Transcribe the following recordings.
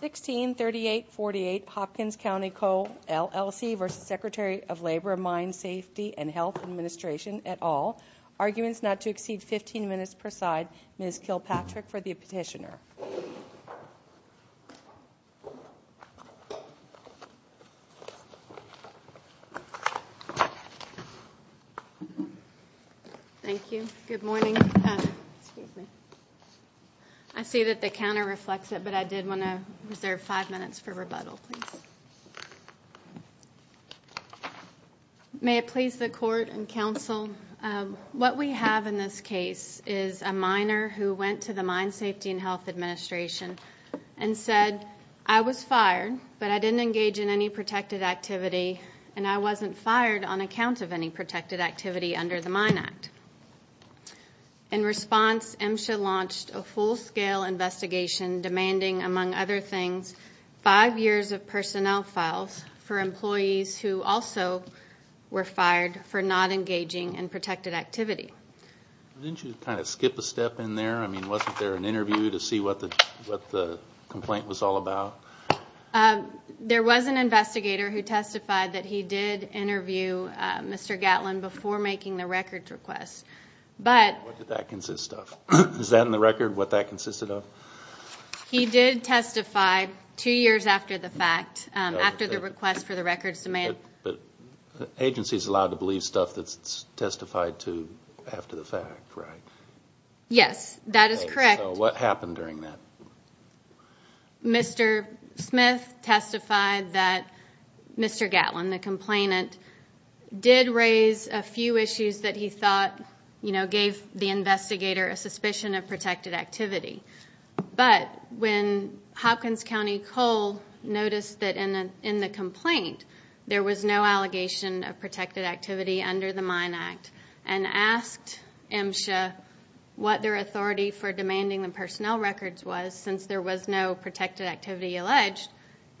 163848 Hopkins County Coal LLC v. Secretary of Labor, Mine Safety and Health Administration et al. Arguments not to exceed 15 minutes per side. Ms. Kilpatrick for the petitioner. Thank you. Good morning. I see that the counter reflects it, but I did want to reserve five minutes for rebuttal, please. May it please the court and counsel, what we have in this and said, I was fired, but I didn't engage in any protected activity, and I wasn't fired on account of any protected activity under the Mine Act. In response, MSHA launched a full-scale investigation demanding, among other things, five years of personnel files for employees who also were fired for not engaging in protected activities. What the complaint was all about? There was an investigator who testified that he did interview Mr. Gatlin before making the records request. What did that consist of? Is that in the record, what that consisted of? He did testify two years after the fact, after the request for the records to be made. But agencies are allowed to believe stuff that's testified to after the fact, right? Yes, that is correct. What happened during that? Mr. Smith testified that Mr. Gatlin, the complainant, did raise a few issues that he thought gave the investigator a suspicion of protected activity. But when Hopkins County Coal noticed that in the complaint there was no allegation of protected activity under the Mine Act and asked MSHA what their authority for demanding the personnel records was, since there was no protected activity alleged,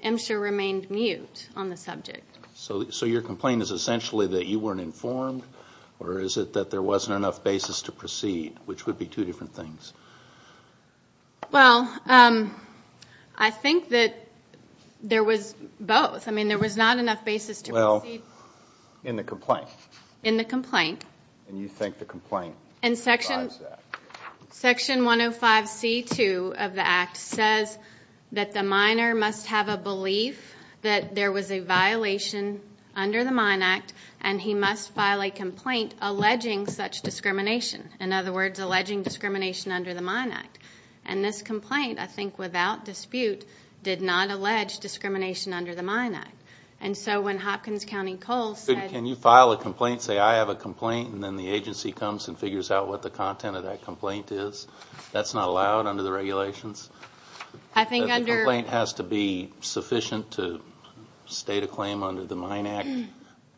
MSHA remained mute on the subject. So your complaint is essentially that you weren't informed, or is it that there wasn't enough basis to proceed, which would be Well, I think that there was both. I mean, there was not enough basis to proceed. Well, in the complaint. In the complaint. And you think the complaint provides that. Section 105C2 of the Act says that the miner must have a belief that there was a violation under the Mine Act and he must file a And this complaint, I think without dispute, did not allege discrimination under the Mine Act. And so when Hopkins County Coal said Can you file a complaint, say I have a complaint, and then the agency comes and figures out what the content of that complaint is, that's not allowed under the regulations? I think under That the complaint has to be sufficient to state a claim under the Mine Act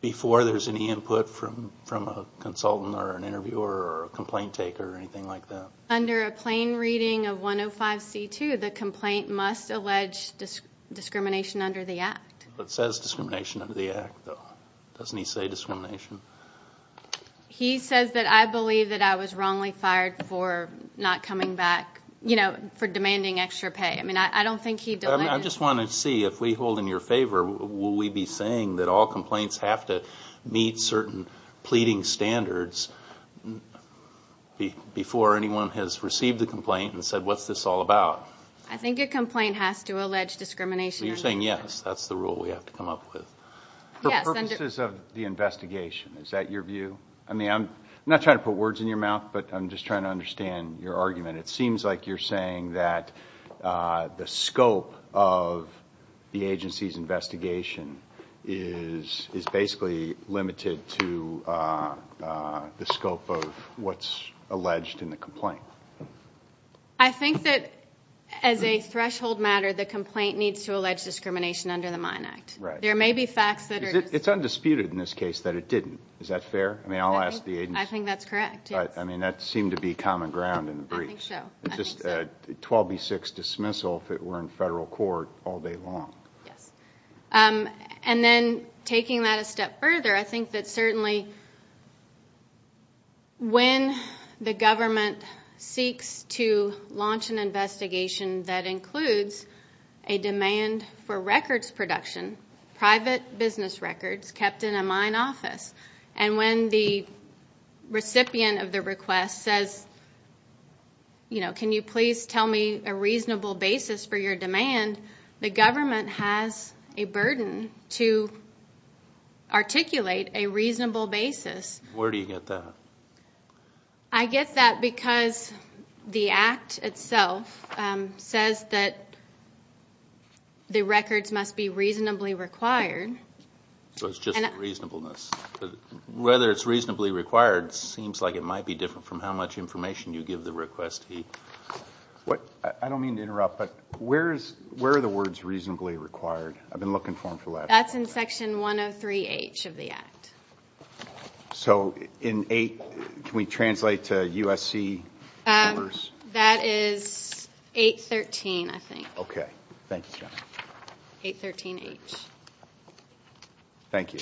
before there's any input from a consultant or an interviewer or a complaint taker or anything like that. Under a plain reading of 105C2, the complaint must allege discrimination under the Act. It says discrimination under the Act, though. Doesn't he say discrimination? He says that I believe that I was wrongly fired for not coming back, you know, for demanding extra pay. I mean, I don't think he I just want to see if we hold in your favor, will we be saying that all complaints have to meet certain pleading standards before anyone has received the complaint and said what's this all about? I think a complaint has to allege discrimination under the Act. You're saying yes, that's the rule we have to come up with. For purposes of the investigation, is that your view? I mean, I'm not trying to put words in your mouth, but I'm just trying to understand your argument. It seems like you're saying that the scope of the agency's investigation is basically limited to the scope of what's alleged in the complaint. I think that as a threshold matter, the complaint needs to allege discrimination under the Mine Act. There may be facts that are It's undisputed in this case that it didn't. Is that fair? I think that's correct. I mean, that seemed to be common ground in the brief. I think so. It's just a 12B6 dismissal if it were in federal court all day long. Yes. And then taking that a step further, I think that certainly when the government seeks to launch an investigation that includes a demand for records production, private business records kept in a mine office, and when the recipient of the request says, you know, can you please tell me a reasonable basis for your demand, the government has a burden to articulate a reasonable basis. Where do you get that? I get that because the Act itself says that the records must be reasonably required. So it's just reasonableness. Whether it's reasonably required seems like it might be different from how much information you give the requestee. I don't mean to interrupt, but where are the words reasonably required? I've been looking for them for a while. That's in Section 103H of the Act. So in 8, can we translate to USC numbers? That is 813, I think. Okay. 813H. Thank you.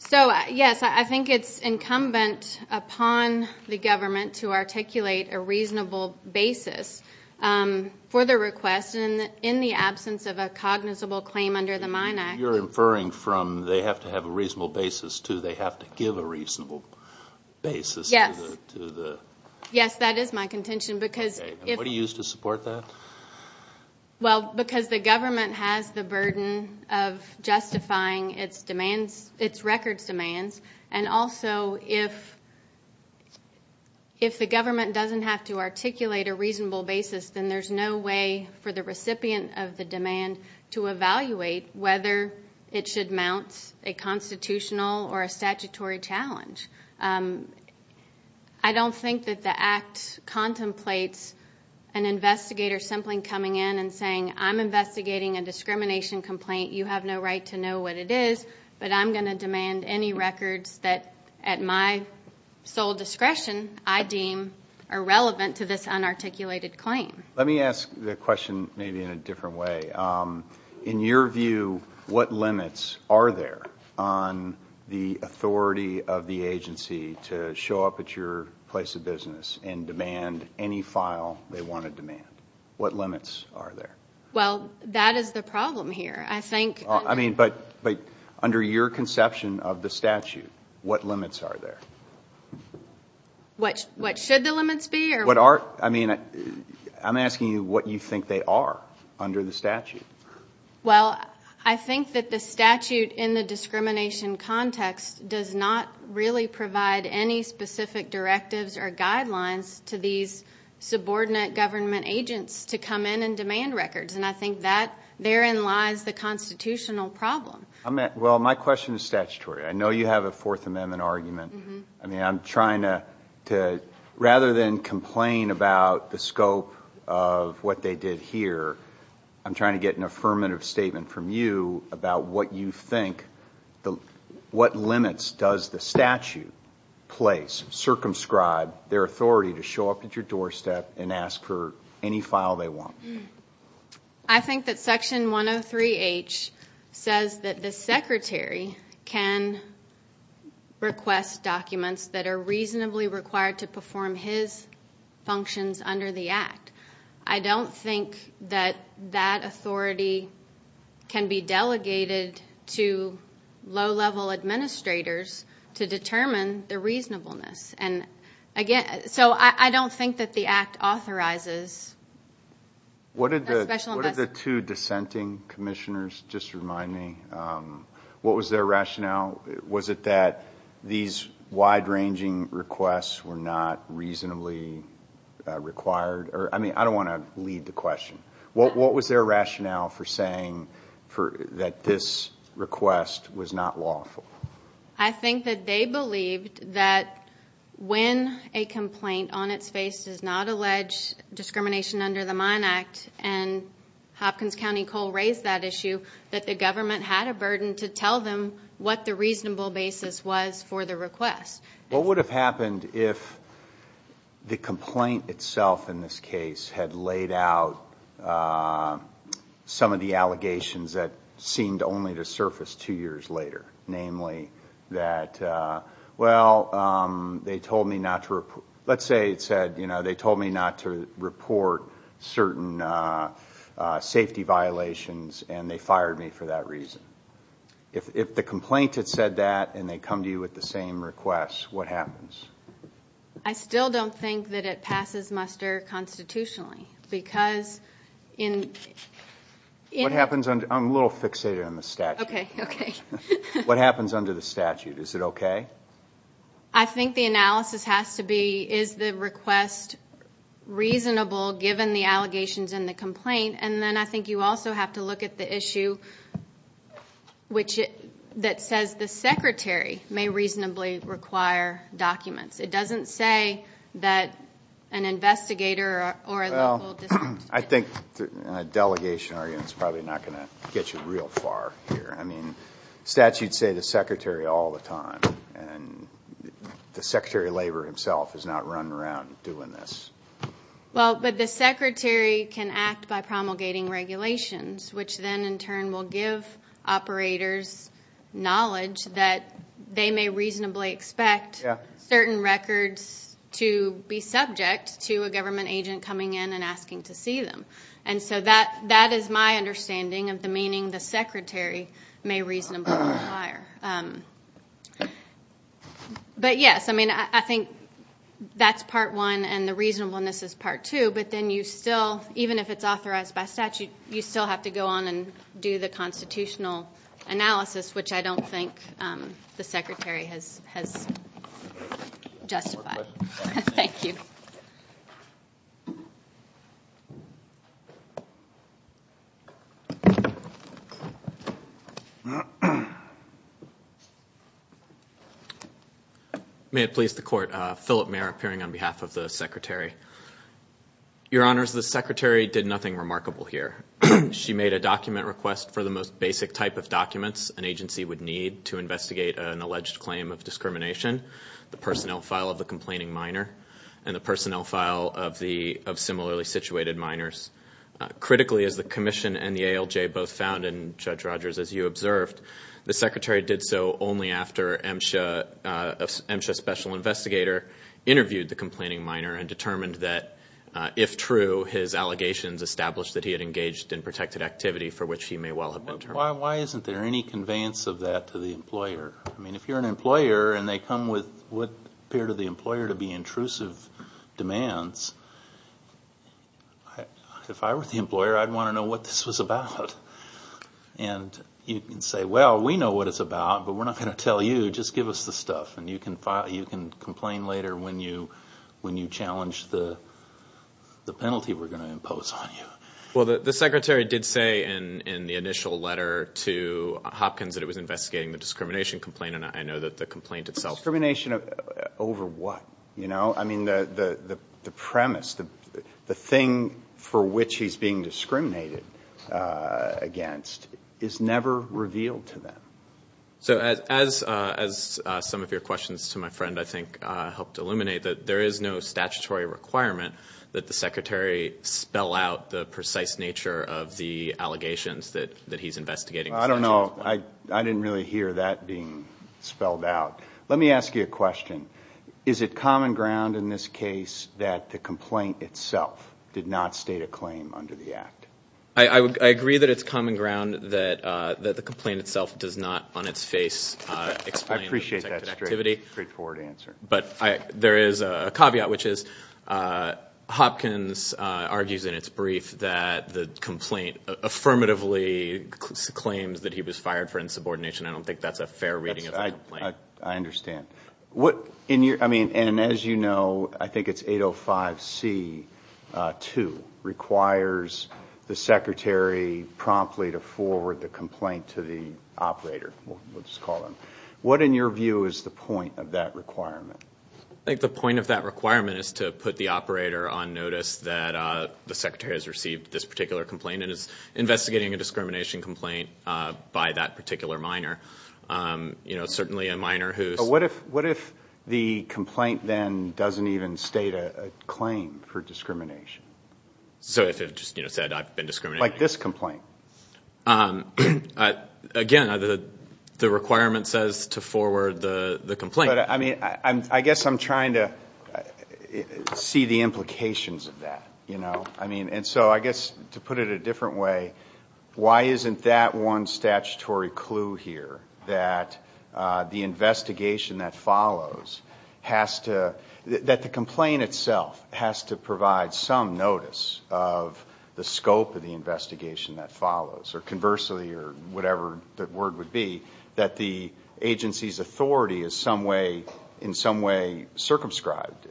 So, yes, I think it's incumbent upon the government to articulate a reasonable basis for the request in the absence of a cognizable claim under the Mine Act. You're inferring from they have to have a reasonable basis to they have to give a reasonable basis to the? Yes, that is my contention. Okay, and what do you use to support that? Well, because the government has the burden of justifying its records demands, and also if the government doesn't have to articulate a reasonable basis, then there's no way for the recipient of the demand to evaluate whether it should mount a constitutional or a statutory challenge. I don't think that the Act contemplates an investigator simply coming in and saying, I'm investigating a discrimination complaint. You have no right to know what it is, but I'm going to demand any records that at my sole discretion I deem are relevant to this unarticulated claim. Let me ask the question maybe in a different way. In your view, what limits are there on the authority of the agency to show up at your place of business and demand any file they want to demand? What limits are there? Well, that is the problem here. I mean, but under your conception of the statute, what limits are there? What should the limits be? I'm asking you what you think they are under the statute. Well, I think that the statute in the discrimination context does not really provide any specific directives or guidelines to these subordinate government agents to come in and demand records, and I think that therein lies the constitutional problem. Well, my question is statutory. I know you have a Fourth Amendment argument. I mean, I'm trying to, rather than complain about the scope of what they did here, I'm trying to get an affirmative statement from you about what you think, what limits does the statute place, circumscribe their authority to show up at your doorstep and ask for any file they want? I think that Section 103H says that the Secretary can request documents that are reasonably required to perform his functions under the Act. I don't think that that authority can be delegated to low-level administrators to determine the reasonableness. So I don't think that the Act authorizes that special investment. What did the two dissenting commissioners, just to remind me, what was their rationale? Was it that these wide-ranging requests were not reasonably required? I mean, I don't want to lead the question. What was their rationale for saying that this request was not lawful? I think that they believed that when a complaint on its face does not allege discrimination under the Mine Act, and Hopkins County Coal raised that issue, that the government had a burden to tell them what the reasonable basis was for the request. What would have happened if the complaint itself in this case had laid out some of the allegations that seemed only to surface two years later, namely that, well, they told me not to report certain safety violations and they fired me for that reason? If the complaint had said that and they come to you with the same request, what happens? I still don't think that it passes muster constitutionally, because in... I'm a little fixated on the statute. Okay, okay. What happens under the statute? Is it okay? I think the analysis has to be, is the request reasonable given the allegations in the complaint? And then I think you also have to look at the issue that says the secretary may reasonably require documents. It doesn't say that an investigator or a local district... I think a delegation argument is probably not going to get you real far here. I mean, statutes say the secretary all the time, and the secretary of labor himself is not running around doing this. Well, but the secretary can act by promulgating regulations, which then in turn will give operators knowledge that they may reasonably expect certain records to be subject to a government agent coming in and asking to see them. And so that is my understanding of the meaning the secretary may reasonably require. But, yes, I mean, I think that's part one and the reasonableness is part two, but then you still, even if it's authorized by statute, you still have to go on and do the constitutional analysis, which I don't think the secretary has justified. Thank you. May it please the Court. Philip Mayer appearing on behalf of the secretary. Your Honors, the secretary did nothing remarkable here. She made a document request for the most basic type of documents an agency would need to investigate an alleged claim of discrimination. The personnel file of the complaining minor and the personnel file of similarly situated minors. Critically, as the commission and the ALJ both found, and Judge Rogers, as you observed, the secretary did so only after MSHA special investigator interviewed the complaining minor and determined that, if true, his allegations established that he had engaged in protected activity for which he may well have been terminated. Why isn't there any conveyance of that to the employer? I mean, if you're an employer and they come with what appear to the employer to be intrusive demands, if I were the employer, I'd want to know what this was about. And you can say, well, we know what it's about, but we're not going to tell you. Just give us the stuff and you can complain later when you challenge the penalty we're going to impose on you. Well, the secretary did say in the initial letter to Hopkins that it was investigating the discrimination complaint, and I know that the complaint itself. Discrimination over what? I mean, the premise, the thing for which he's being discriminated against is never revealed to them. So as some of your questions to my friend, I think, helped illuminate that there is no statutory requirement that the secretary spell out the precise nature of the allegations that he's investigating. I don't know. I didn't really hear that being spelled out. Let me ask you a question. Is it common ground in this case that the complaint itself did not state a claim under the act? I agree that it's common ground that the complaint itself does not on its face explain the protected activity. I appreciate that straightforward answer. But there is a caveat, which is Hopkins argues in its brief that the complaint affirmatively claims that he was fired for insubordination. I don't think that's a fair reading of the complaint. I understand. I mean, and as you know, I think it's 805C2 requires the secretary promptly to forward the complaint to the operator. We'll just call him. What, in your view, is the point of that requirement? I think the point of that requirement is to put the operator on notice that the secretary has received this particular complaint and is investigating a discrimination complaint by that particular minor. You know, certainly a minor who's- But what if the complaint then doesn't even state a claim for discrimination? So if it just, you know, said I've been discriminated against? Like this complaint. Again, the requirement says to forward the complaint. But, I mean, I guess I'm trying to see the implications of that, you know? I mean, and so I guess to put it a different way, why isn't that one statutory clue here, that the investigation that follows has to- that the complaint itself has to provide some notice of the scope of the investigation that follows? Or conversely, or whatever the word would be, that the agency's authority is in some way circumscribed,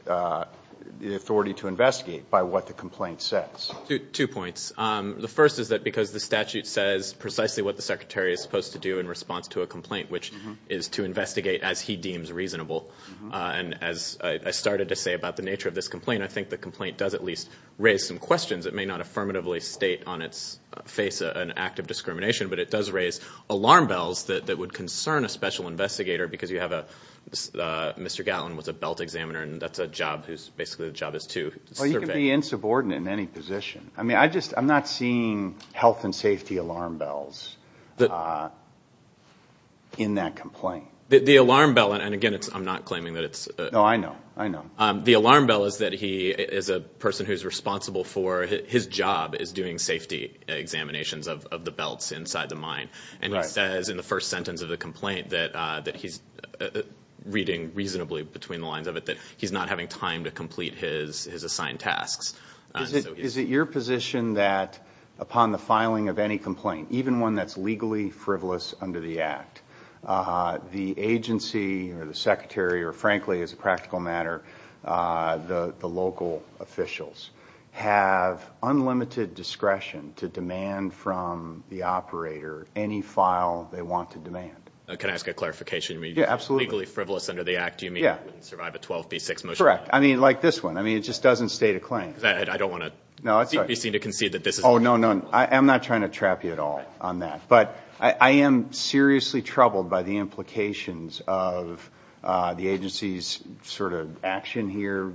the authority to investigate by what the complaint says. Two points. The first is that because the statute says precisely what the secretary is supposed to do in response to a complaint, which is to investigate as he deems reasonable. And as I started to say about the nature of this complaint, I think the complaint does at least raise some questions. It may not affirmatively state on its face an act of discrimination, but it does raise alarm bells that would concern a special investigator because you have a- Mr. Gatlin was a belt examiner, and that's a job whose- basically the job is to survey. Well, you can be insubordinate in any position. I mean, I just- I'm not seeing health and safety alarm bells in that complaint. The alarm bell- and again, I'm not claiming that it's- No, I know. I know. The alarm bell is that he is a person who's responsible for- his job is doing safety examinations of the belts inside the mine. And he says in the first sentence of the complaint that he's reading reasonably between the lines of it, that he's not having time to complete his assigned tasks. Is it your position that upon the filing of any complaint, even one that's legally frivolous under the act, the agency or the secretary or, frankly, as a practical matter, the local officials, have unlimited discretion to demand from the operator any file they want to demand? Can I ask a clarification? Yeah, absolutely. When you say legally frivolous under the act, do you mean- Yeah. Survive a 12B6 motion? Correct. I mean, like this one. I mean, it just doesn't state a claim. I don't want to be seen to concede that this is- Oh, no, no. I'm not trying to trap you at all on that. But I am seriously troubled by the implications of the agency's sort of action here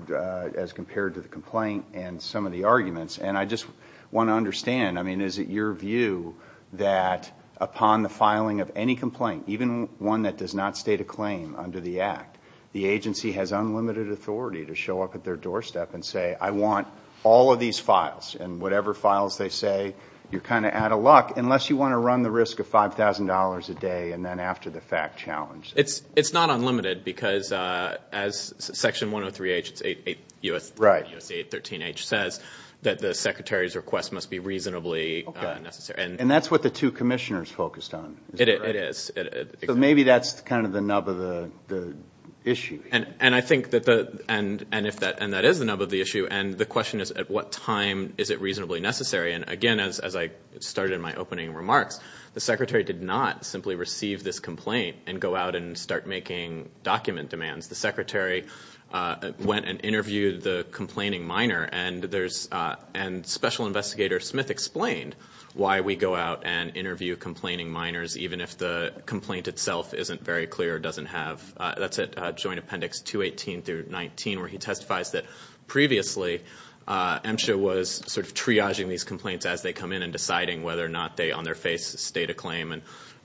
as compared to the complaint and some of the arguments. And I just want to understand, I mean, is it your view that upon the filing of any complaint, even one that does not state a claim under the act, the agency has unlimited authority to show up at their doorstep and say, I want all of these files, and whatever files they say, you're kind of out of luck, unless you want to run the risk of $5,000 a day and then after the fact challenge. It's not unlimited because as Section 103H, it's 813H, says that the secretary's request must be reasonably necessary. And that's what the two commissioners focused on. It is. So maybe that's kind of the nub of the issue. And I think that the- and if that- and that is the nub of the issue. And the question is, at what time is it reasonably necessary? And, again, as I started in my opening remarks, the secretary did not simply receive this complaint and go out and start making document demands. The secretary went and interviewed the complaining minor, and there's- and Special Investigator Smith explained why we go out and interview complaining minors, even if the complaint itself isn't very clear, doesn't have- that's at Joint Appendix 218 through 19, where he testifies that previously MSHA was sort of triaging these complaints as they come in and deciding whether or not they, on their face, state a claim and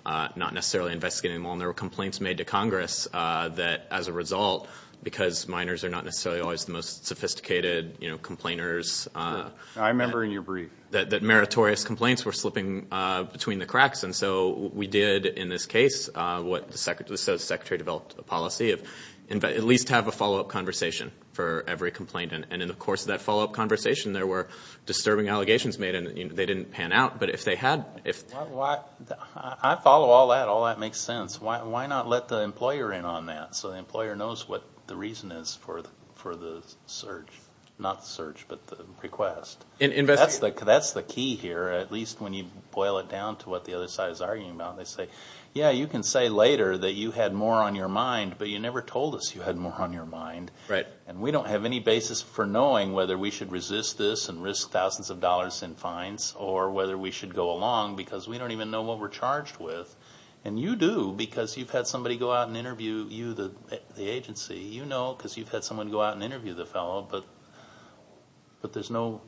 not necessarily investigating them all. And there were complaints made to Congress that, as a result, because minors are not necessarily always the most sophisticated, you know, complainers- I remember in your brief. That meritorious complaints were slipping between the cracks. And so we did, in this case, what the secretary- the secretary developed a policy of at least have a follow-up conversation for every complaint. And in the course of that follow-up conversation, there were disturbing allegations made, and they didn't pan out. But if they had- I follow all that. All that makes sense. Why not let the employer in on that? So the employer knows what the reason is for the search. Not the search, but the request. That's the key here, at least when you boil it down to what the other side is arguing about. They say, yeah, you can say later that you had more on your mind, but you never told us you had more on your mind. And we don't have any basis for knowing whether we should resist this and risk thousands of dollars in fines or whether we should go along because we don't even know what we're charged with. And you do because you've had somebody go out and interview you, the agency. You know because you've had someone go out and interview the fellow, but there's no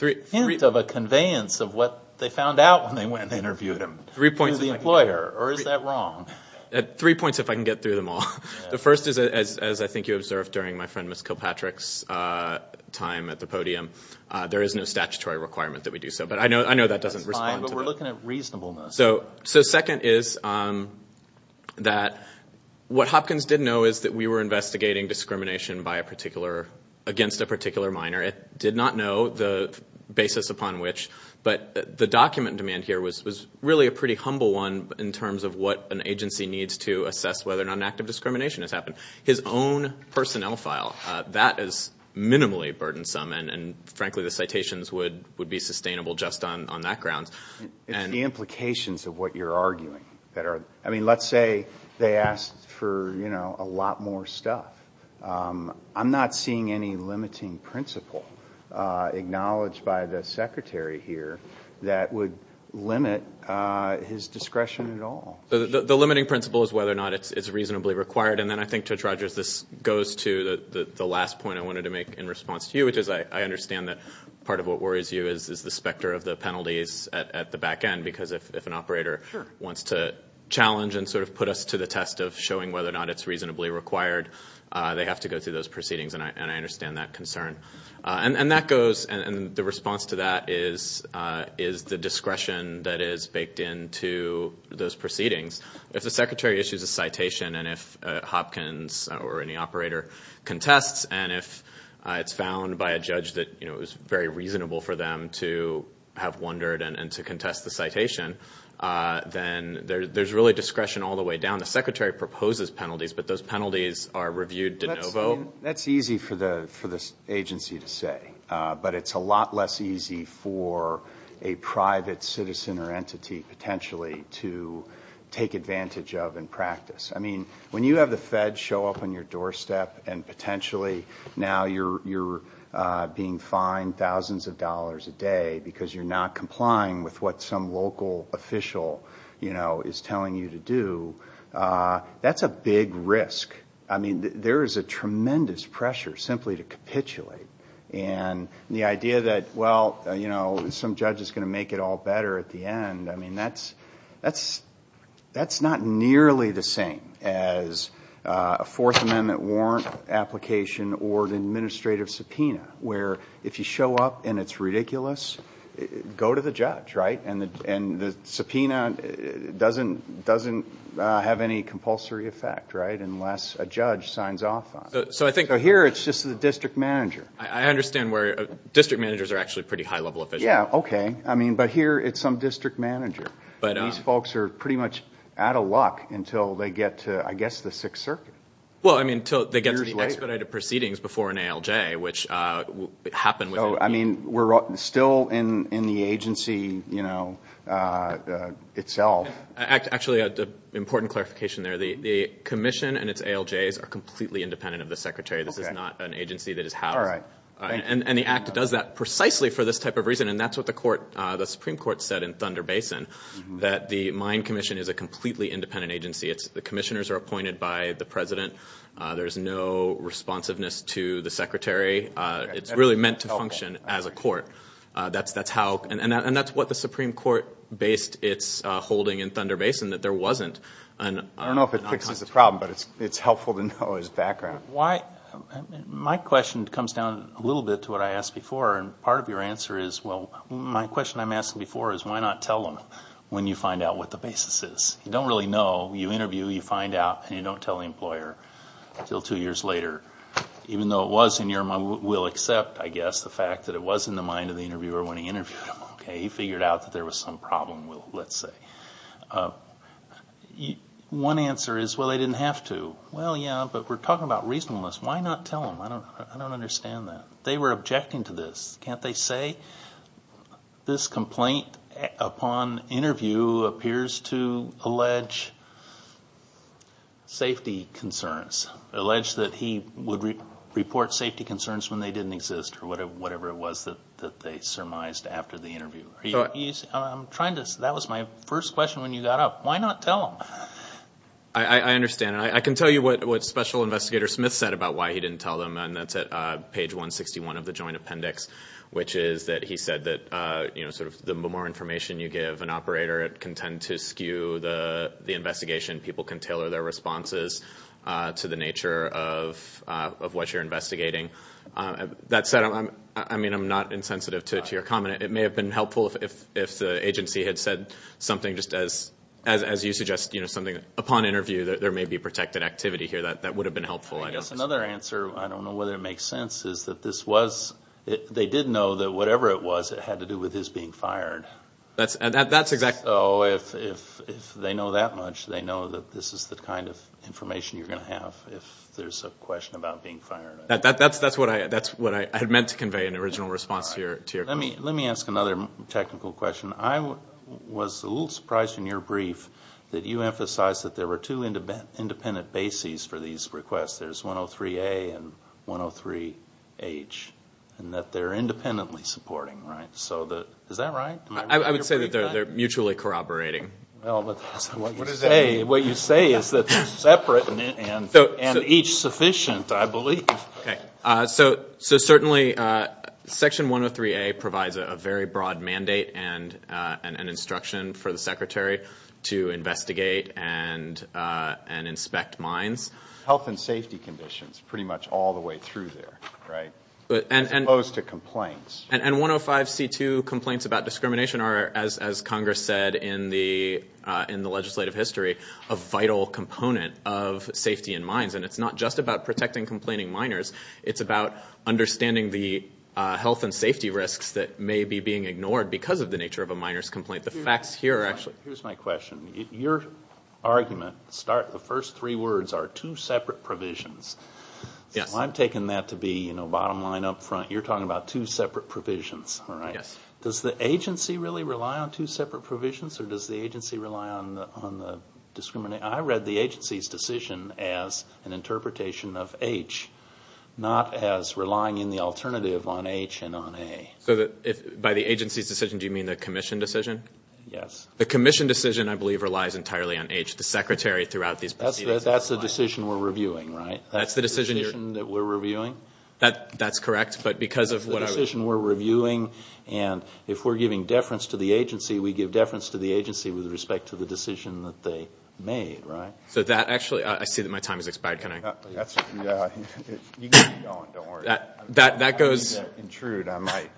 hint of a conveyance of what they found out when they went and interviewed him. Three points if I can get through. Or is that wrong? Three points if I can get through them all. The first is, as I think you observed during my friend Ms. Kilpatrick's time at the podium, there is no statutory requirement that we do so. But I know that doesn't respond to that. But we're looking at reasonableness. So second is that what Hopkins did know is that we were investigating discrimination against a particular minor. It did not know the basis upon which. But the document in demand here was really a pretty humble one in terms of what an agency needs to assess whether or not an act of discrimination has happened. His own personnel file, that is minimally burdensome. And, frankly, the citations would be sustainable just on that ground. It's the implications of what you're arguing. I mean let's say they asked for, you know, a lot more stuff. I'm not seeing any limiting principle acknowledged by the secretary here that would limit his discretion at all. The limiting principle is whether or not it's reasonably required. And then I think, Judge Rogers, this goes to the last point I wanted to make in response to you, which is I understand that part of what worries you is the specter of the penalties at the back end. Because if an operator wants to challenge and sort of put us to the test of showing whether or not it's reasonably required, they have to go through those proceedings, and I understand that concern. And that goes, and the response to that is the discretion that is baked into those proceedings. If the secretary issues a citation and if Hopkins or any operator contests, and if it's found by a judge that it was very reasonable for them to have wondered and to contest the citation, then there's really discretion all the way down. The secretary proposes penalties, but those penalties are reviewed de novo. That's easy for the agency to say. But it's a lot less easy for a private citizen or entity potentially to take advantage of and practice. I mean, when you have the Fed show up on your doorstep and potentially now you're being fined thousands of dollars a day because you're not complying with what some local official, you know, is telling you to do, that's a big risk. I mean, there is a tremendous pressure simply to capitulate. And the idea that, well, you know, some judge is going to make it all better at the end, I mean, that's not nearly the same as a Fourth Amendment warrant application or an administrative subpoena, where if you show up and it's ridiculous, go to the judge, right? And the subpoena doesn't have any compulsory effect, right, unless a judge signs off on it. So here it's just the district manager. I understand where district managers are actually pretty high-level officials. Yeah, okay. I mean, but here it's some district manager. These folks are pretty much out of luck until they get to, I guess, the Sixth Circuit. Well, I mean, until they get to the expedited proceedings before an ALJ, which happened within a year. So, I mean, we're still in the agency, you know, itself. Actually, an important clarification there. The commission and its ALJs are completely independent of the secretary. This is not an agency that is housed. And the Act does that precisely for this type of reason, and that's what the Supreme Court said in Thunder Basin, that the mine commission is a completely independent agency. The commissioners are appointed by the president. There's no responsiveness to the secretary. It's really meant to function as a court. And that's what the Supreme Court based its holding in Thunder Basin, that there wasn't. I don't know if it fixes the problem, but it's helpful to know his background. My question comes down a little bit to what I asked before. And part of your answer is, well, my question I'm asking before is, why not tell them when you find out what the basis is? You don't really know. You interview, you find out, and you don't tell the employer until two years later. Even though it was in your mind, we'll accept, I guess, the fact that it was in the mind of the interviewer when he interviewed him. He figured out that there was some problem, let's say. One answer is, well, they didn't have to. Well, yeah, but we're talking about reasonableness. Why not tell them? I don't understand that. They were objecting to this. Can't they say, this complaint upon interview appears to allege safety concerns, allege that he would report safety concerns when they didn't exist, or whatever it was that they surmised after the interview. That was my first question when you got up. Why not tell them? I understand. I can tell you what Special Investigator Smith said about why he didn't tell them, and that's at page 161 of the Joint Appendix, which is that he said that the more information you give an operator, it can tend to skew the investigation. People can tailor their responses to the nature of what you're investigating. That said, I mean, I'm not insensitive to your comment. It may have been helpful if the agency had said something just as you suggested, something upon interview that there may be protected activity here. That would have been helpful, I guess. I guess another answer, I don't know whether it makes sense, is that they did know that whatever it was, it had to do with his being fired. That's exactly right. So if they know that much, they know that this is the kind of information you're going to have if there's a question about being fired. That's what I had meant to convey in original response to your question. Let me ask another technical question. I was a little surprised in your brief that you emphasized that there were two independent bases for these requests. There's 103A and 103H, and that they're independently supporting. Is that right? I would say that they're mutually corroborating. What you say is that they're separate and each sufficient, I believe. So certainly Section 103A provides a very broad mandate and instruction for the Secretary to investigate and inspect mines. Health and safety conditions pretty much all the way through there, right? As opposed to complaints. And 105C2 complaints about discrimination are, as Congress said in the legislative history, a vital component of safety in mines, and it's not just about protecting complaining miners. It's about understanding the health and safety risks that may be being ignored because of the nature of a miner's complaint. The facts here are actually— Here's my question. Your argument, the first three words are two separate provisions. I'm taking that to be bottom line, up front. You're talking about two separate provisions, all right? Yes. Does the agency really rely on two separate provisions, or does the agency rely on the discrimination? I read the agency's decision as an interpretation of H, not as relying in the alternative on H and on A. So by the agency's decision, do you mean the commission decision? Yes. The commission decision, I believe, relies entirely on H. The Secretary throughout these proceedings— That's the decision we're reviewing, right? That's the decision you're— That's the decision that we're reviewing? That's correct, but because of what I was— That's the decision we're reviewing, and if we're giving deference to the agency, we give deference to the agency with respect to the decision that they made, right? So that actually—I see that my time has expired. Can I— You can keep going. Don't worry. That goes— I don't mean to intrude. I might—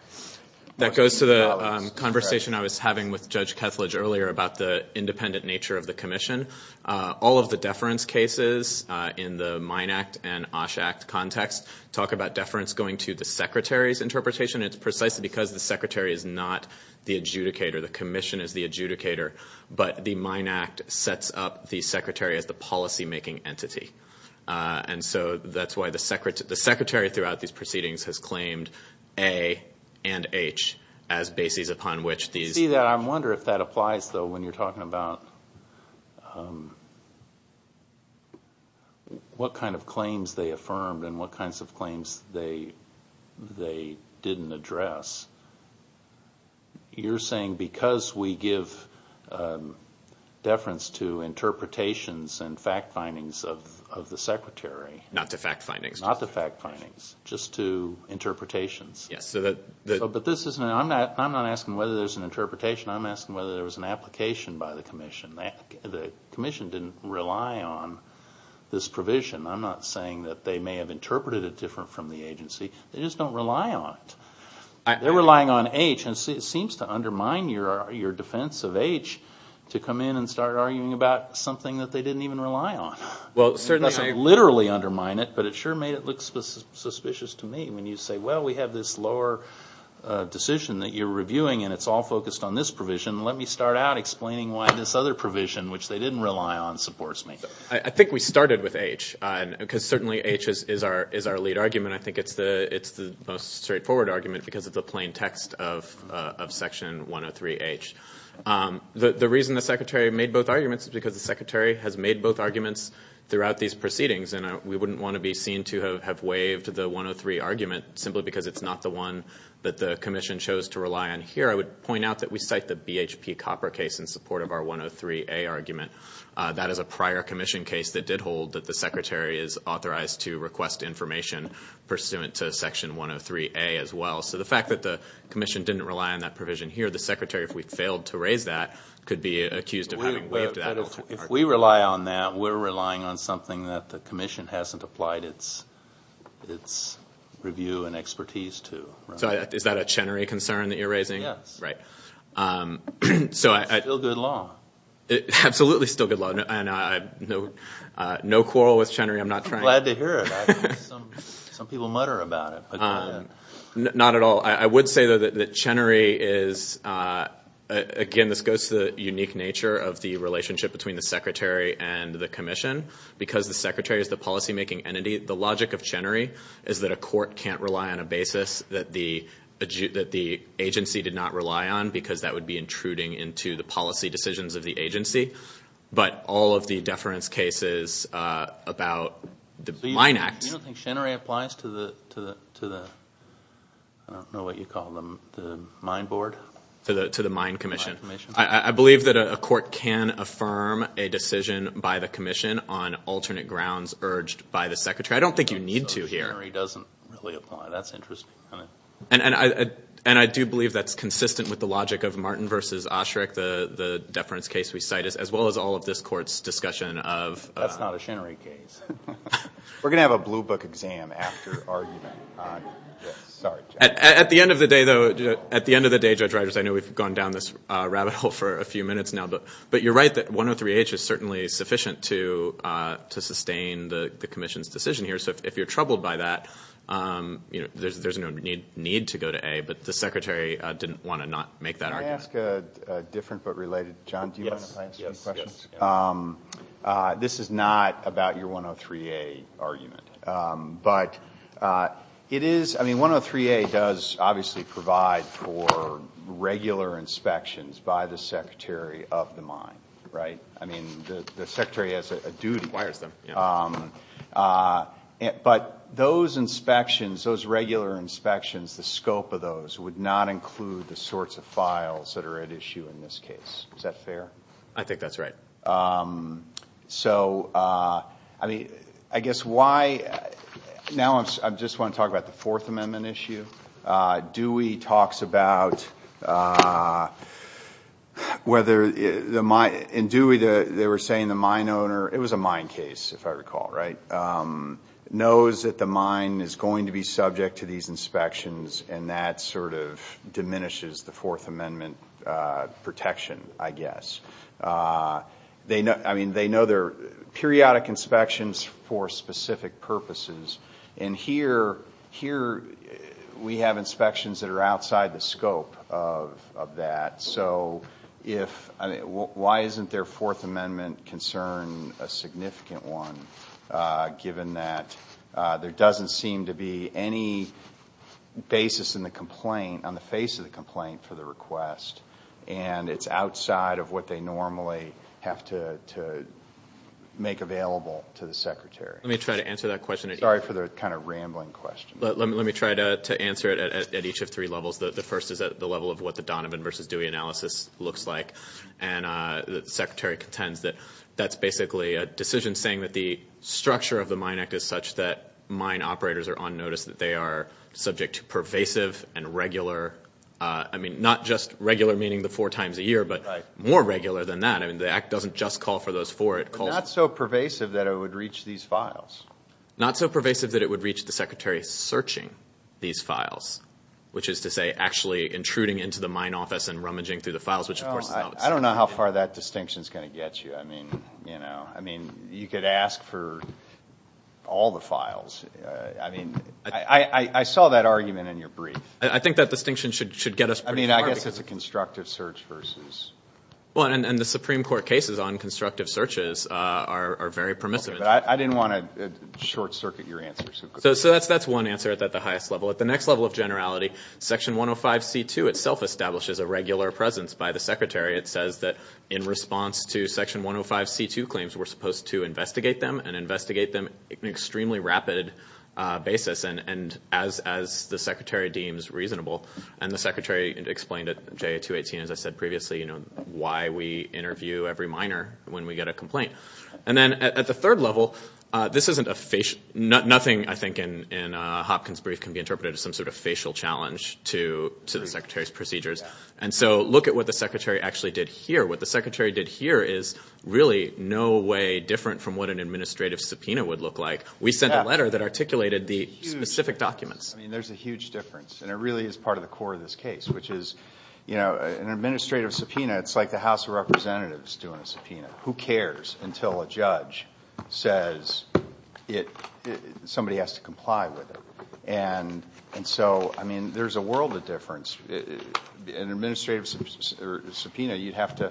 That goes to the conversation I was having with Judge Kethledge earlier about the independent nature of the commission. All of the deference cases in the Mine Act and Osh Act context talk about deference going to the Secretary's interpretation, and it's precisely because the Secretary is not the adjudicator. The commission is the adjudicator, but the Mine Act sets up the Secretary as the policymaking entity, and so that's why the Secretary throughout these proceedings has claimed A and H as bases upon which these— what kind of claims they affirmed and what kinds of claims they didn't address. You're saying because we give deference to interpretations and fact findings of the Secretary— Not to fact findings. Not to fact findings, just to interpretations. Yes, so that— But this isn't—I'm not asking whether there's an interpretation. I'm asking whether there was an application by the commission. The commission didn't rely on this provision. I'm not saying that they may have interpreted it different from the agency. They just don't rely on it. They're relying on H, and it seems to undermine your defense of H to come in and start arguing about something that they didn't even rely on. It doesn't literally undermine it, but it sure made it look suspicious to me when you say, well, we have this lower decision that you're reviewing and it's all focused on this provision. Let me start out explaining why this other provision, which they didn't rely on, supports me. I think we started with H, because certainly H is our lead argument. I think it's the most straightforward argument because of the plain text of Section 103H. The reason the Secretary made both arguments is because the Secretary has made both arguments throughout these proceedings, and we wouldn't want to be seen to have waived the 103 argument simply because it's not the one that the commission chose to rely on. Here I would point out that we cite the BHP Copper case in support of our 103A argument. That is a prior commission case that did hold that the Secretary is authorized to request information pursuant to Section 103A as well. So the fact that the commission didn't rely on that provision here, the Secretary, if we failed to raise that, could be accused of having waived that. If we rely on that, we're relying on something that the commission hasn't applied its review and expertise to. Is that a Chenery concern that you're raising? Yes. Still good law. Absolutely still good law. No quarrel with Chenery. I'm glad to hear it. Some people mutter about it. Not at all. I would say, though, that Chenery is, again, this goes to the unique nature of the relationship between the Secretary and the commission. Because the Secretary is the policymaking entity, the logic of Chenery is that a court can't rely on a basis that the agency did not rely on, because that would be intruding into the policy decisions of the agency. But all of the deference cases about the Mine Act. You don't think Chenery applies to the, I don't know what you call them, the mine board? To the mine commission. I believe that a court can affirm a decision by the commission on alternate grounds urged by the Secretary. I don't think you need to here. I don't think Chenery doesn't really apply. That's interesting. And I do believe that's consistent with the logic of Martin v. Osherick, the deference case we cite, as well as all of this court's discussion of. That's not a Chenery case. We're going to have a blue book exam after our event. Sorry. At the end of the day, though, at the end of the day, Judge Ryders, I know we've gone down this rabbit hole for a few minutes now, but you're right that 103H is certainly sufficient to sustain the commission's decision here. So if you're troubled by that, there's no need to go to A, but the Secretary didn't want to not make that argument. Can I ask a different but related, John, do you mind if I ask a question? Yes. This is not about your 103A argument. But it is, I mean, 103A does obviously provide for regular inspections by the Secretary of the mine, right? I mean, the Secretary has a duty. He requires them. But those inspections, those regular inspections, the scope of those would not include the sorts of files that are at issue in this case. Is that fair? I think that's right. So, I mean, I guess why now I just want to talk about the Fourth Amendment issue. Dewey talks about whether the mine, in Dewey they were saying the mine owner, it was a mine case, if I recall, right, knows that the mine is going to be subject to these inspections, and that sort of diminishes the Fourth Amendment protection, I guess. I mean, they know they're periodic inspections for specific purposes. And here we have inspections that are outside the scope of that. So why isn't their Fourth Amendment concern a significant one, given that there doesn't seem to be any basis in the complaint, on the face of the complaint, for the request, and it's outside of what they normally have to make available to the Secretary? Let me try to answer that question. Sorry for the kind of rambling question. Let me try to answer it at each of three levels. The first is at the level of what the Donovan v. Dewey analysis looks like. And the Secretary contends that that's basically a decision saying that the structure of the Mine Act is such that mine operators are on notice that they are subject to pervasive and regular, I mean, not just regular meaning the four times a year, but more regular than that. I mean, the Act doesn't just call for those four. But not so pervasive that it would reach these files. Not so pervasive that it would reach the Secretary searching these files, which is to say actually intruding into the mine office and rummaging through the files. I don't know how far that distinction is going to get you. I mean, you could ask for all the files. I mean, I saw that argument in your brief. I think that distinction should get us pretty far. I mean, I guess it's a constructive search versus. And the Supreme Court cases on constructive searches are very permissive. I didn't want to short circuit your answer so quickly. So that's one answer at the highest level. At the next level of generality, Section 105C2 itself establishes a regular presence by the Secretary. It says that in response to Section 105C2 claims, we're supposed to investigate them and investigate them in an extremely rapid basis, and as the Secretary deems reasonable. And the Secretary explained at JA218, as I said previously, why we interview every miner when we get a complaint. And then at the third level, this isn't a facial. Nothing, I think, in Hopkins' brief can be interpreted as some sort of facial challenge to the Secretary's procedures. And so look at what the Secretary actually did here. What the Secretary did here is really no way different from what an administrative subpoena would look like. We sent a letter that articulated the specific documents. I mean, there's a huge difference, and it really is part of the core of this case, which is an administrative subpoena, it's like the House of Representatives doing a subpoena. Who cares until a judge says somebody has to comply with it? And so, I mean, there's a world of difference. In an administrative subpoena, you'd have to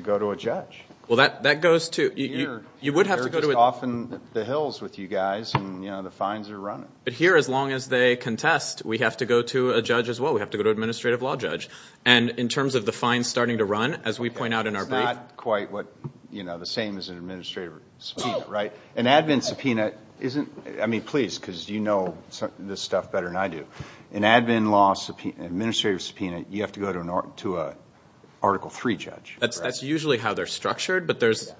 go to a judge. Well, that goes to... You would have to go to... They're just off in the hills with you guys, and, you know, the fines are running. But here, as long as they contest, we have to go to a judge as well. We have to go to an administrative law judge. And in terms of the fines starting to run, as we point out in our brief... It's not quite the same as an administrative subpoena, right? An admin subpoena isn't... I mean, please, because you know this stuff better than I do. An admin law administrative subpoena, you have to go to an Article III judge. That's usually how they're structured, but there's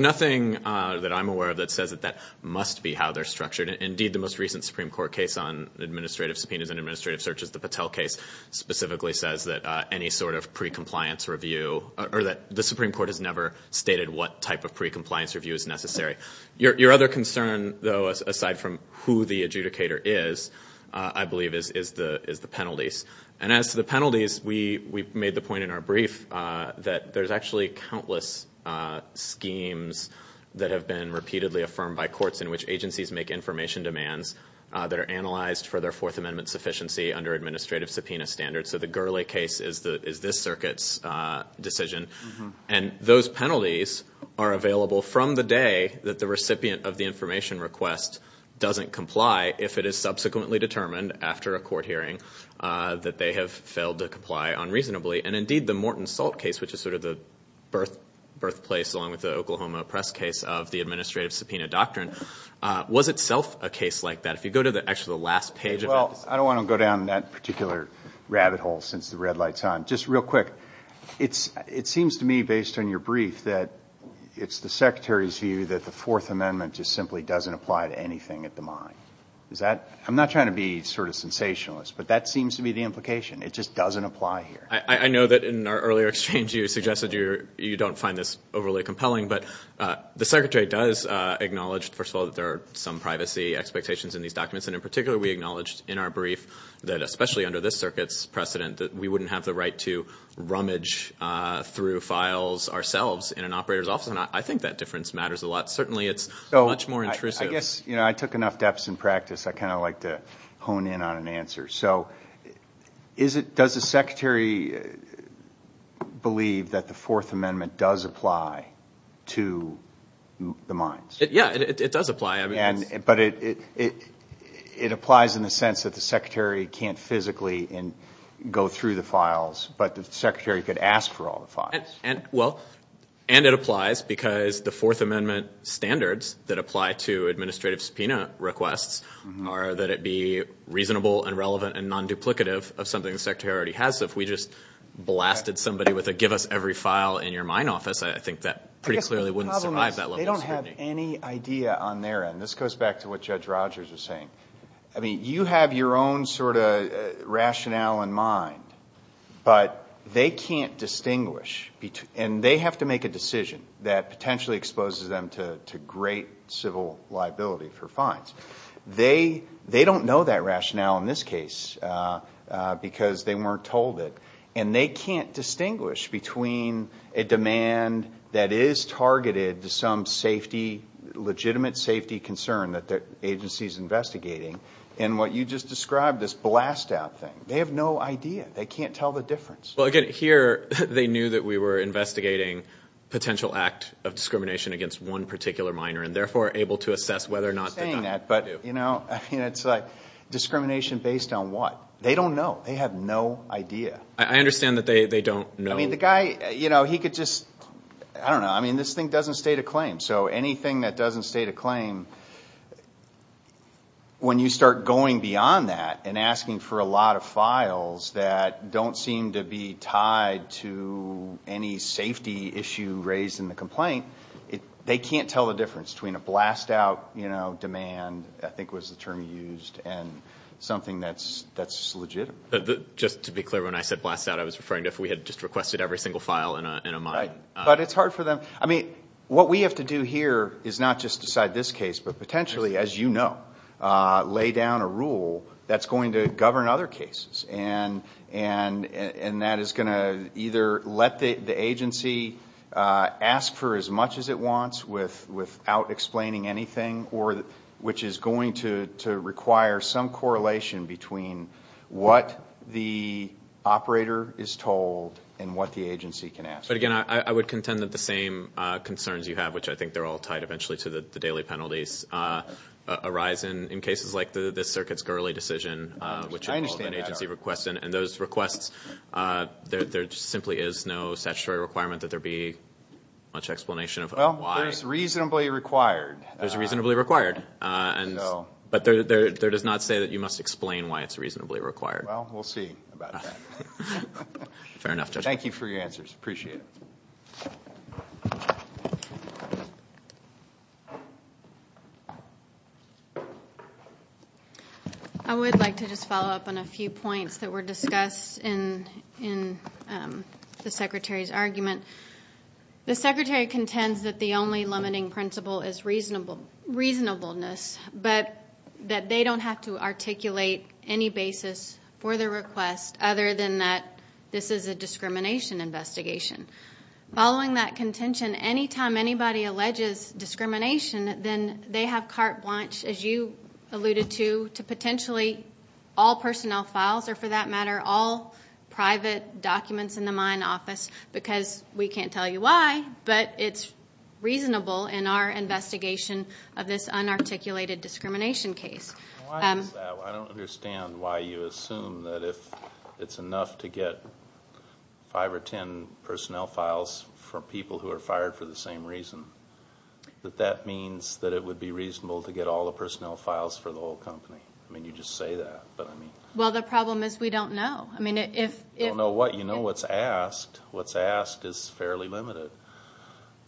nothing that I'm aware of that says that that must be how they're structured. Indeed, the most recent Supreme Court case on administrative subpoenas and administrative searches, the Patel case, specifically says that any sort of pre-compliance review... Or that the Supreme Court has never stated what type of pre-compliance review is necessary. Your other concern, though, aside from who the adjudicator is, I believe, is the penalties. And as to the penalties, we made the point in our brief that there's actually countless schemes that have been repeatedly affirmed by courts in which agencies make information demands that are analyzed for their Fourth Amendment sufficiency under administrative subpoena standards. So the Gurley case is this circuit's decision. And those penalties are available from the day that the recipient of the information request doesn't comply if it is subsequently determined after a court hearing that they have failed to comply unreasonably. And indeed, the Morton Salt case, which is sort of the birthplace, along with the Oklahoma Press case, of the administrative subpoena doctrine, was itself a case like that. If you go to actually the last page... I don't want to go down that particular rabbit hole since the red light's on. Just real quick, it seems to me, based on your brief, that it's the Secretary's view that the Fourth Amendment just simply doesn't apply to anything at the mine. I'm not trying to be sort of sensationalist, but that seems to be the implication. It just doesn't apply here. I know that in our earlier exchange you suggested you don't find this overly compelling, but the Secretary does acknowledge, first of all, that there are some privacy expectations in these documents, and in particular we acknowledged in our brief that especially under this circuit's precedent that we wouldn't have the right to rummage through files ourselves in an operator's office, and I think that difference matters a lot. Certainly it's much more intrusive. I guess I took enough depths in practice. I kind of like to hone in on an answer. So does the Secretary believe that the Fourth Amendment does apply to the mines? Yeah, it does apply. But it applies in the sense that the Secretary can't physically go through the files, but the Secretary could ask for all the files. And it applies because the Fourth Amendment standards that apply to administrative subpoena requests are that it be reasonable and relevant and non-duplicative of something the Secretary already has. So if we just blasted somebody with a give us every file in your mine office, I think that pretty clearly wouldn't survive that level of scrutiny. They don't have any idea on their end. This goes back to what Judge Rogers was saying. I mean, you have your own sort of rationale in mind, but they can't distinguish, and they have to make a decision that potentially exposes them to great civil liability for fines. They don't know that rationale in this case and they can't distinguish between a demand that is targeted to some legitimate safety concern that the agency is investigating and what you just described, this blast-out thing. They have no idea. They can't tell the difference. Well, again, here they knew that we were investigating a potential act of discrimination against one particular miner and therefore able to assess whether or not the guy did. You keep saying that, but, you know, it's like discrimination based on what? They don't know. They have no idea. I understand that they don't know. I mean, the guy, you know, he could just... I don't know. I mean, this thing doesn't state a claim, so anything that doesn't state a claim, when you start going beyond that and asking for a lot of files that don't seem to be tied to any safety issue raised in the complaint, they can't tell the difference between a blast-out demand, I think was the term you used, and something that's legitimate. Just to be clear, when I said blast-out, I was referring to if we had just requested every single file in a mine. But it's hard for them. I mean, what we have to do here is not just decide this case, but potentially, as you know, lay down a rule that's going to govern other cases, and that is going to either let the agency ask for as much as it wants without explaining anything, which is going to require some correlation between what the operator is told and what the agency can ask for. But again, I would contend that the same concerns you have, which I think they're all tied eventually to the daily penalties, arise in cases like this Circuit's Gurley decision, which involved an agency request, and those requests, there simply is no statutory requirement that there be much explanation of why. Well, there's reasonably required. There's reasonably required. But there does not say that you must explain why it's reasonably required. Well, we'll see about that. Fair enough, Judge. Thank you for your answers. Appreciate it. I would like to just follow up on a few points that were discussed in the Secretary's argument. The Secretary contends that the only limiting principle is reasonableness, but that they don't have to articulate any basis for their request other than that this is a discrimination investigation. Following that contention, anytime anybody alleges discrimination, then they have carte blanche, as you alluded to, to potentially all personnel files, or for that matter, all private documents in the mine office because we can't tell you why, but it's reasonable in our investigation of this unarticulated discrimination case. Why is that? I don't understand why you assume that if it's enough to get five or ten personnel files for people who are fired for the same reason, that that means that it would be reasonable to get all the personnel files for the whole company. I mean, you just say that. Well, the problem is we don't know. You don't know what? Well, you know what's asked. What's asked is fairly limited.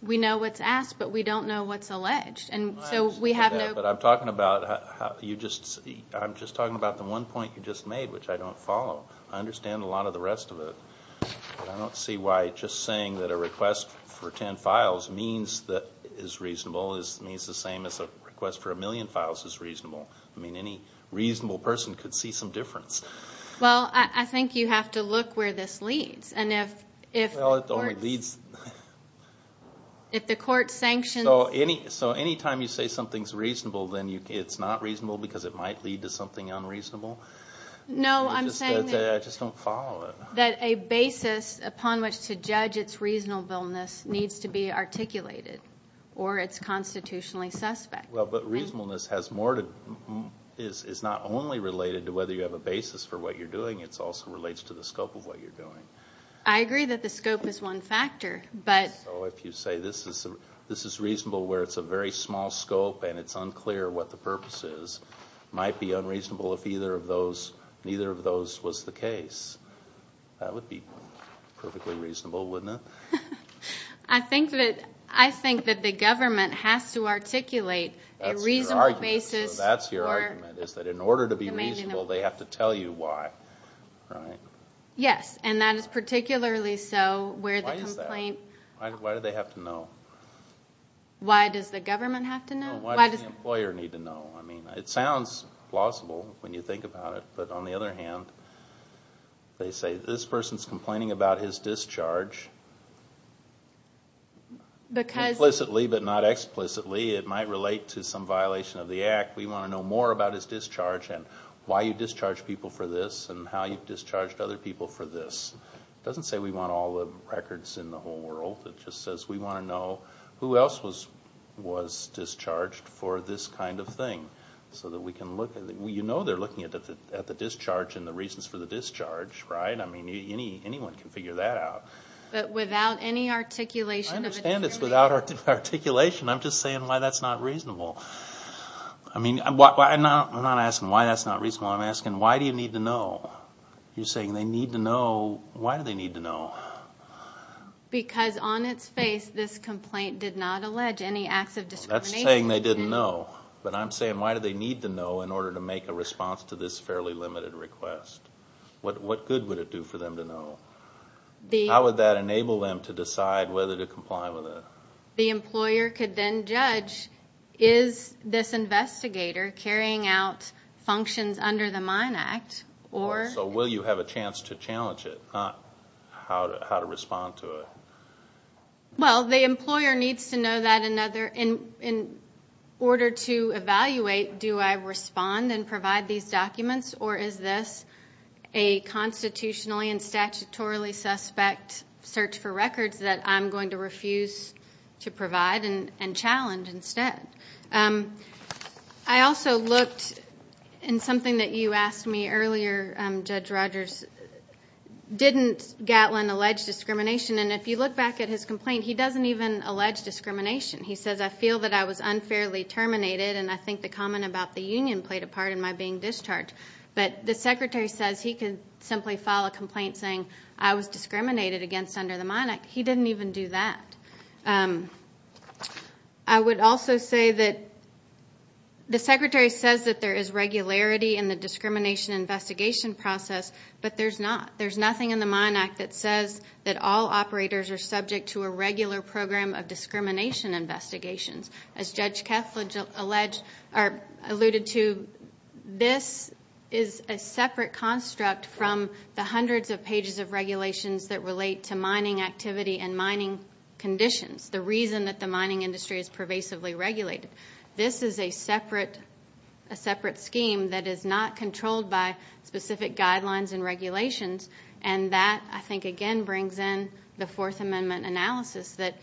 We know what's asked, but we don't know what's alleged. I understand that, but I'm talking about the one point you just made, which I don't follow. I understand a lot of the rest of it, but I don't see why just saying that a request for ten files means that it's reasonable means the same as a request for a million files is reasonable. I mean, any reasonable person could see some difference. Well, I think you have to look where this leads. Well, it only leads. If the court sanctions. So any time you say something's reasonable, then it's not reasonable because it might lead to something unreasonable? No, I'm saying that. I just don't follow it. That a basis upon which to judge its reasonableness needs to be articulated or it's constitutionally suspect. Well, but reasonableness is not only related to whether you have a basis for what you're doing. It also relates to the scope of what you're doing. I agree that the scope is one factor, but. So if you say this is reasonable where it's a very small scope and it's unclear what the purpose is, it might be unreasonable if neither of those was the case. That would be perfectly reasonable, wouldn't it? I think that the government has to articulate a reasonable basis. So that's your argument, is that in order to be reasonable, they have to tell you why, right? Yes, and that is particularly so where the complaint. Why is that? Why do they have to know? Why does the government have to know? No, why does the employer need to know? I mean, it sounds plausible when you think about it, but on the other hand, they say, this person's complaining about his discharge. Implicitly, but not explicitly, it might relate to some violation of the Act. We want to know more about his discharge and why you discharged people for this and how you discharged other people for this. It doesn't say we want all the records in the whole world. It just says we want to know who else was discharged for this kind of thing. So that we can look at it. You know they're looking at the discharge and the reasons for the discharge, right? I mean, anyone can figure that out. But without any articulation of it. I understand it's without articulation. I'm just saying why that's not reasonable. I'm not asking why that's not reasonable. I'm asking why do you need to know? You're saying they need to know. Why do they need to know? Because on its face, this complaint did not allege any acts of discrimination. That's saying they didn't know. But I'm saying why do they need to know in order to make a response to this fairly limited request? What good would it do for them to know? How would that enable them to decide whether to comply with it? The employer could then judge, is this investigator carrying out functions under the Mine Act? So will you have a chance to challenge it, not how to respond to it? Well, the employer needs to know that in order to evaluate, do I respond and provide these documents? Or is this a constitutionally and statutorily suspect search for records that I'm going to refuse to provide and challenge instead? I also looked in something that you asked me earlier, Judge Rogers. Didn't Gatlin allege discrimination? And if you look back at his complaint, he doesn't even allege discrimination. He says, I feel that I was unfairly terminated, and I think the comment about the union played a part in my being discharged. But the Secretary says he could simply file a complaint saying I was discriminated against under the Mine Act. He didn't even do that. I would also say that the Secretary says that there is regularity in the discrimination investigation process, but there's not. There's nothing in the Mine Act that says that all operators are subject to a regular program of discrimination investigations. As Judge Keff alluded to, this is a separate construct from the hundreds of pages of regulations that relate to mining activity and mining conditions, the reason that the mining industry is pervasively regulated. This is a separate scheme that is not controlled by specific guidelines and regulations, and that, I think, again, brings in the Fourth Amendment analysis that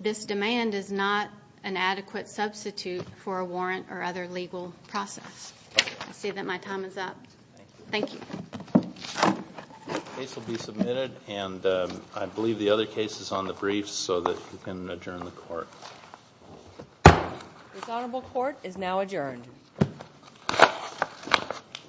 this demand is not an adequate substitute for a warrant or other legal process. I see that my time is up. Thank you. The case will be submitted, and I believe the other case is on the briefs so that you can adjourn the Court. This Honorable Court is now adjourned.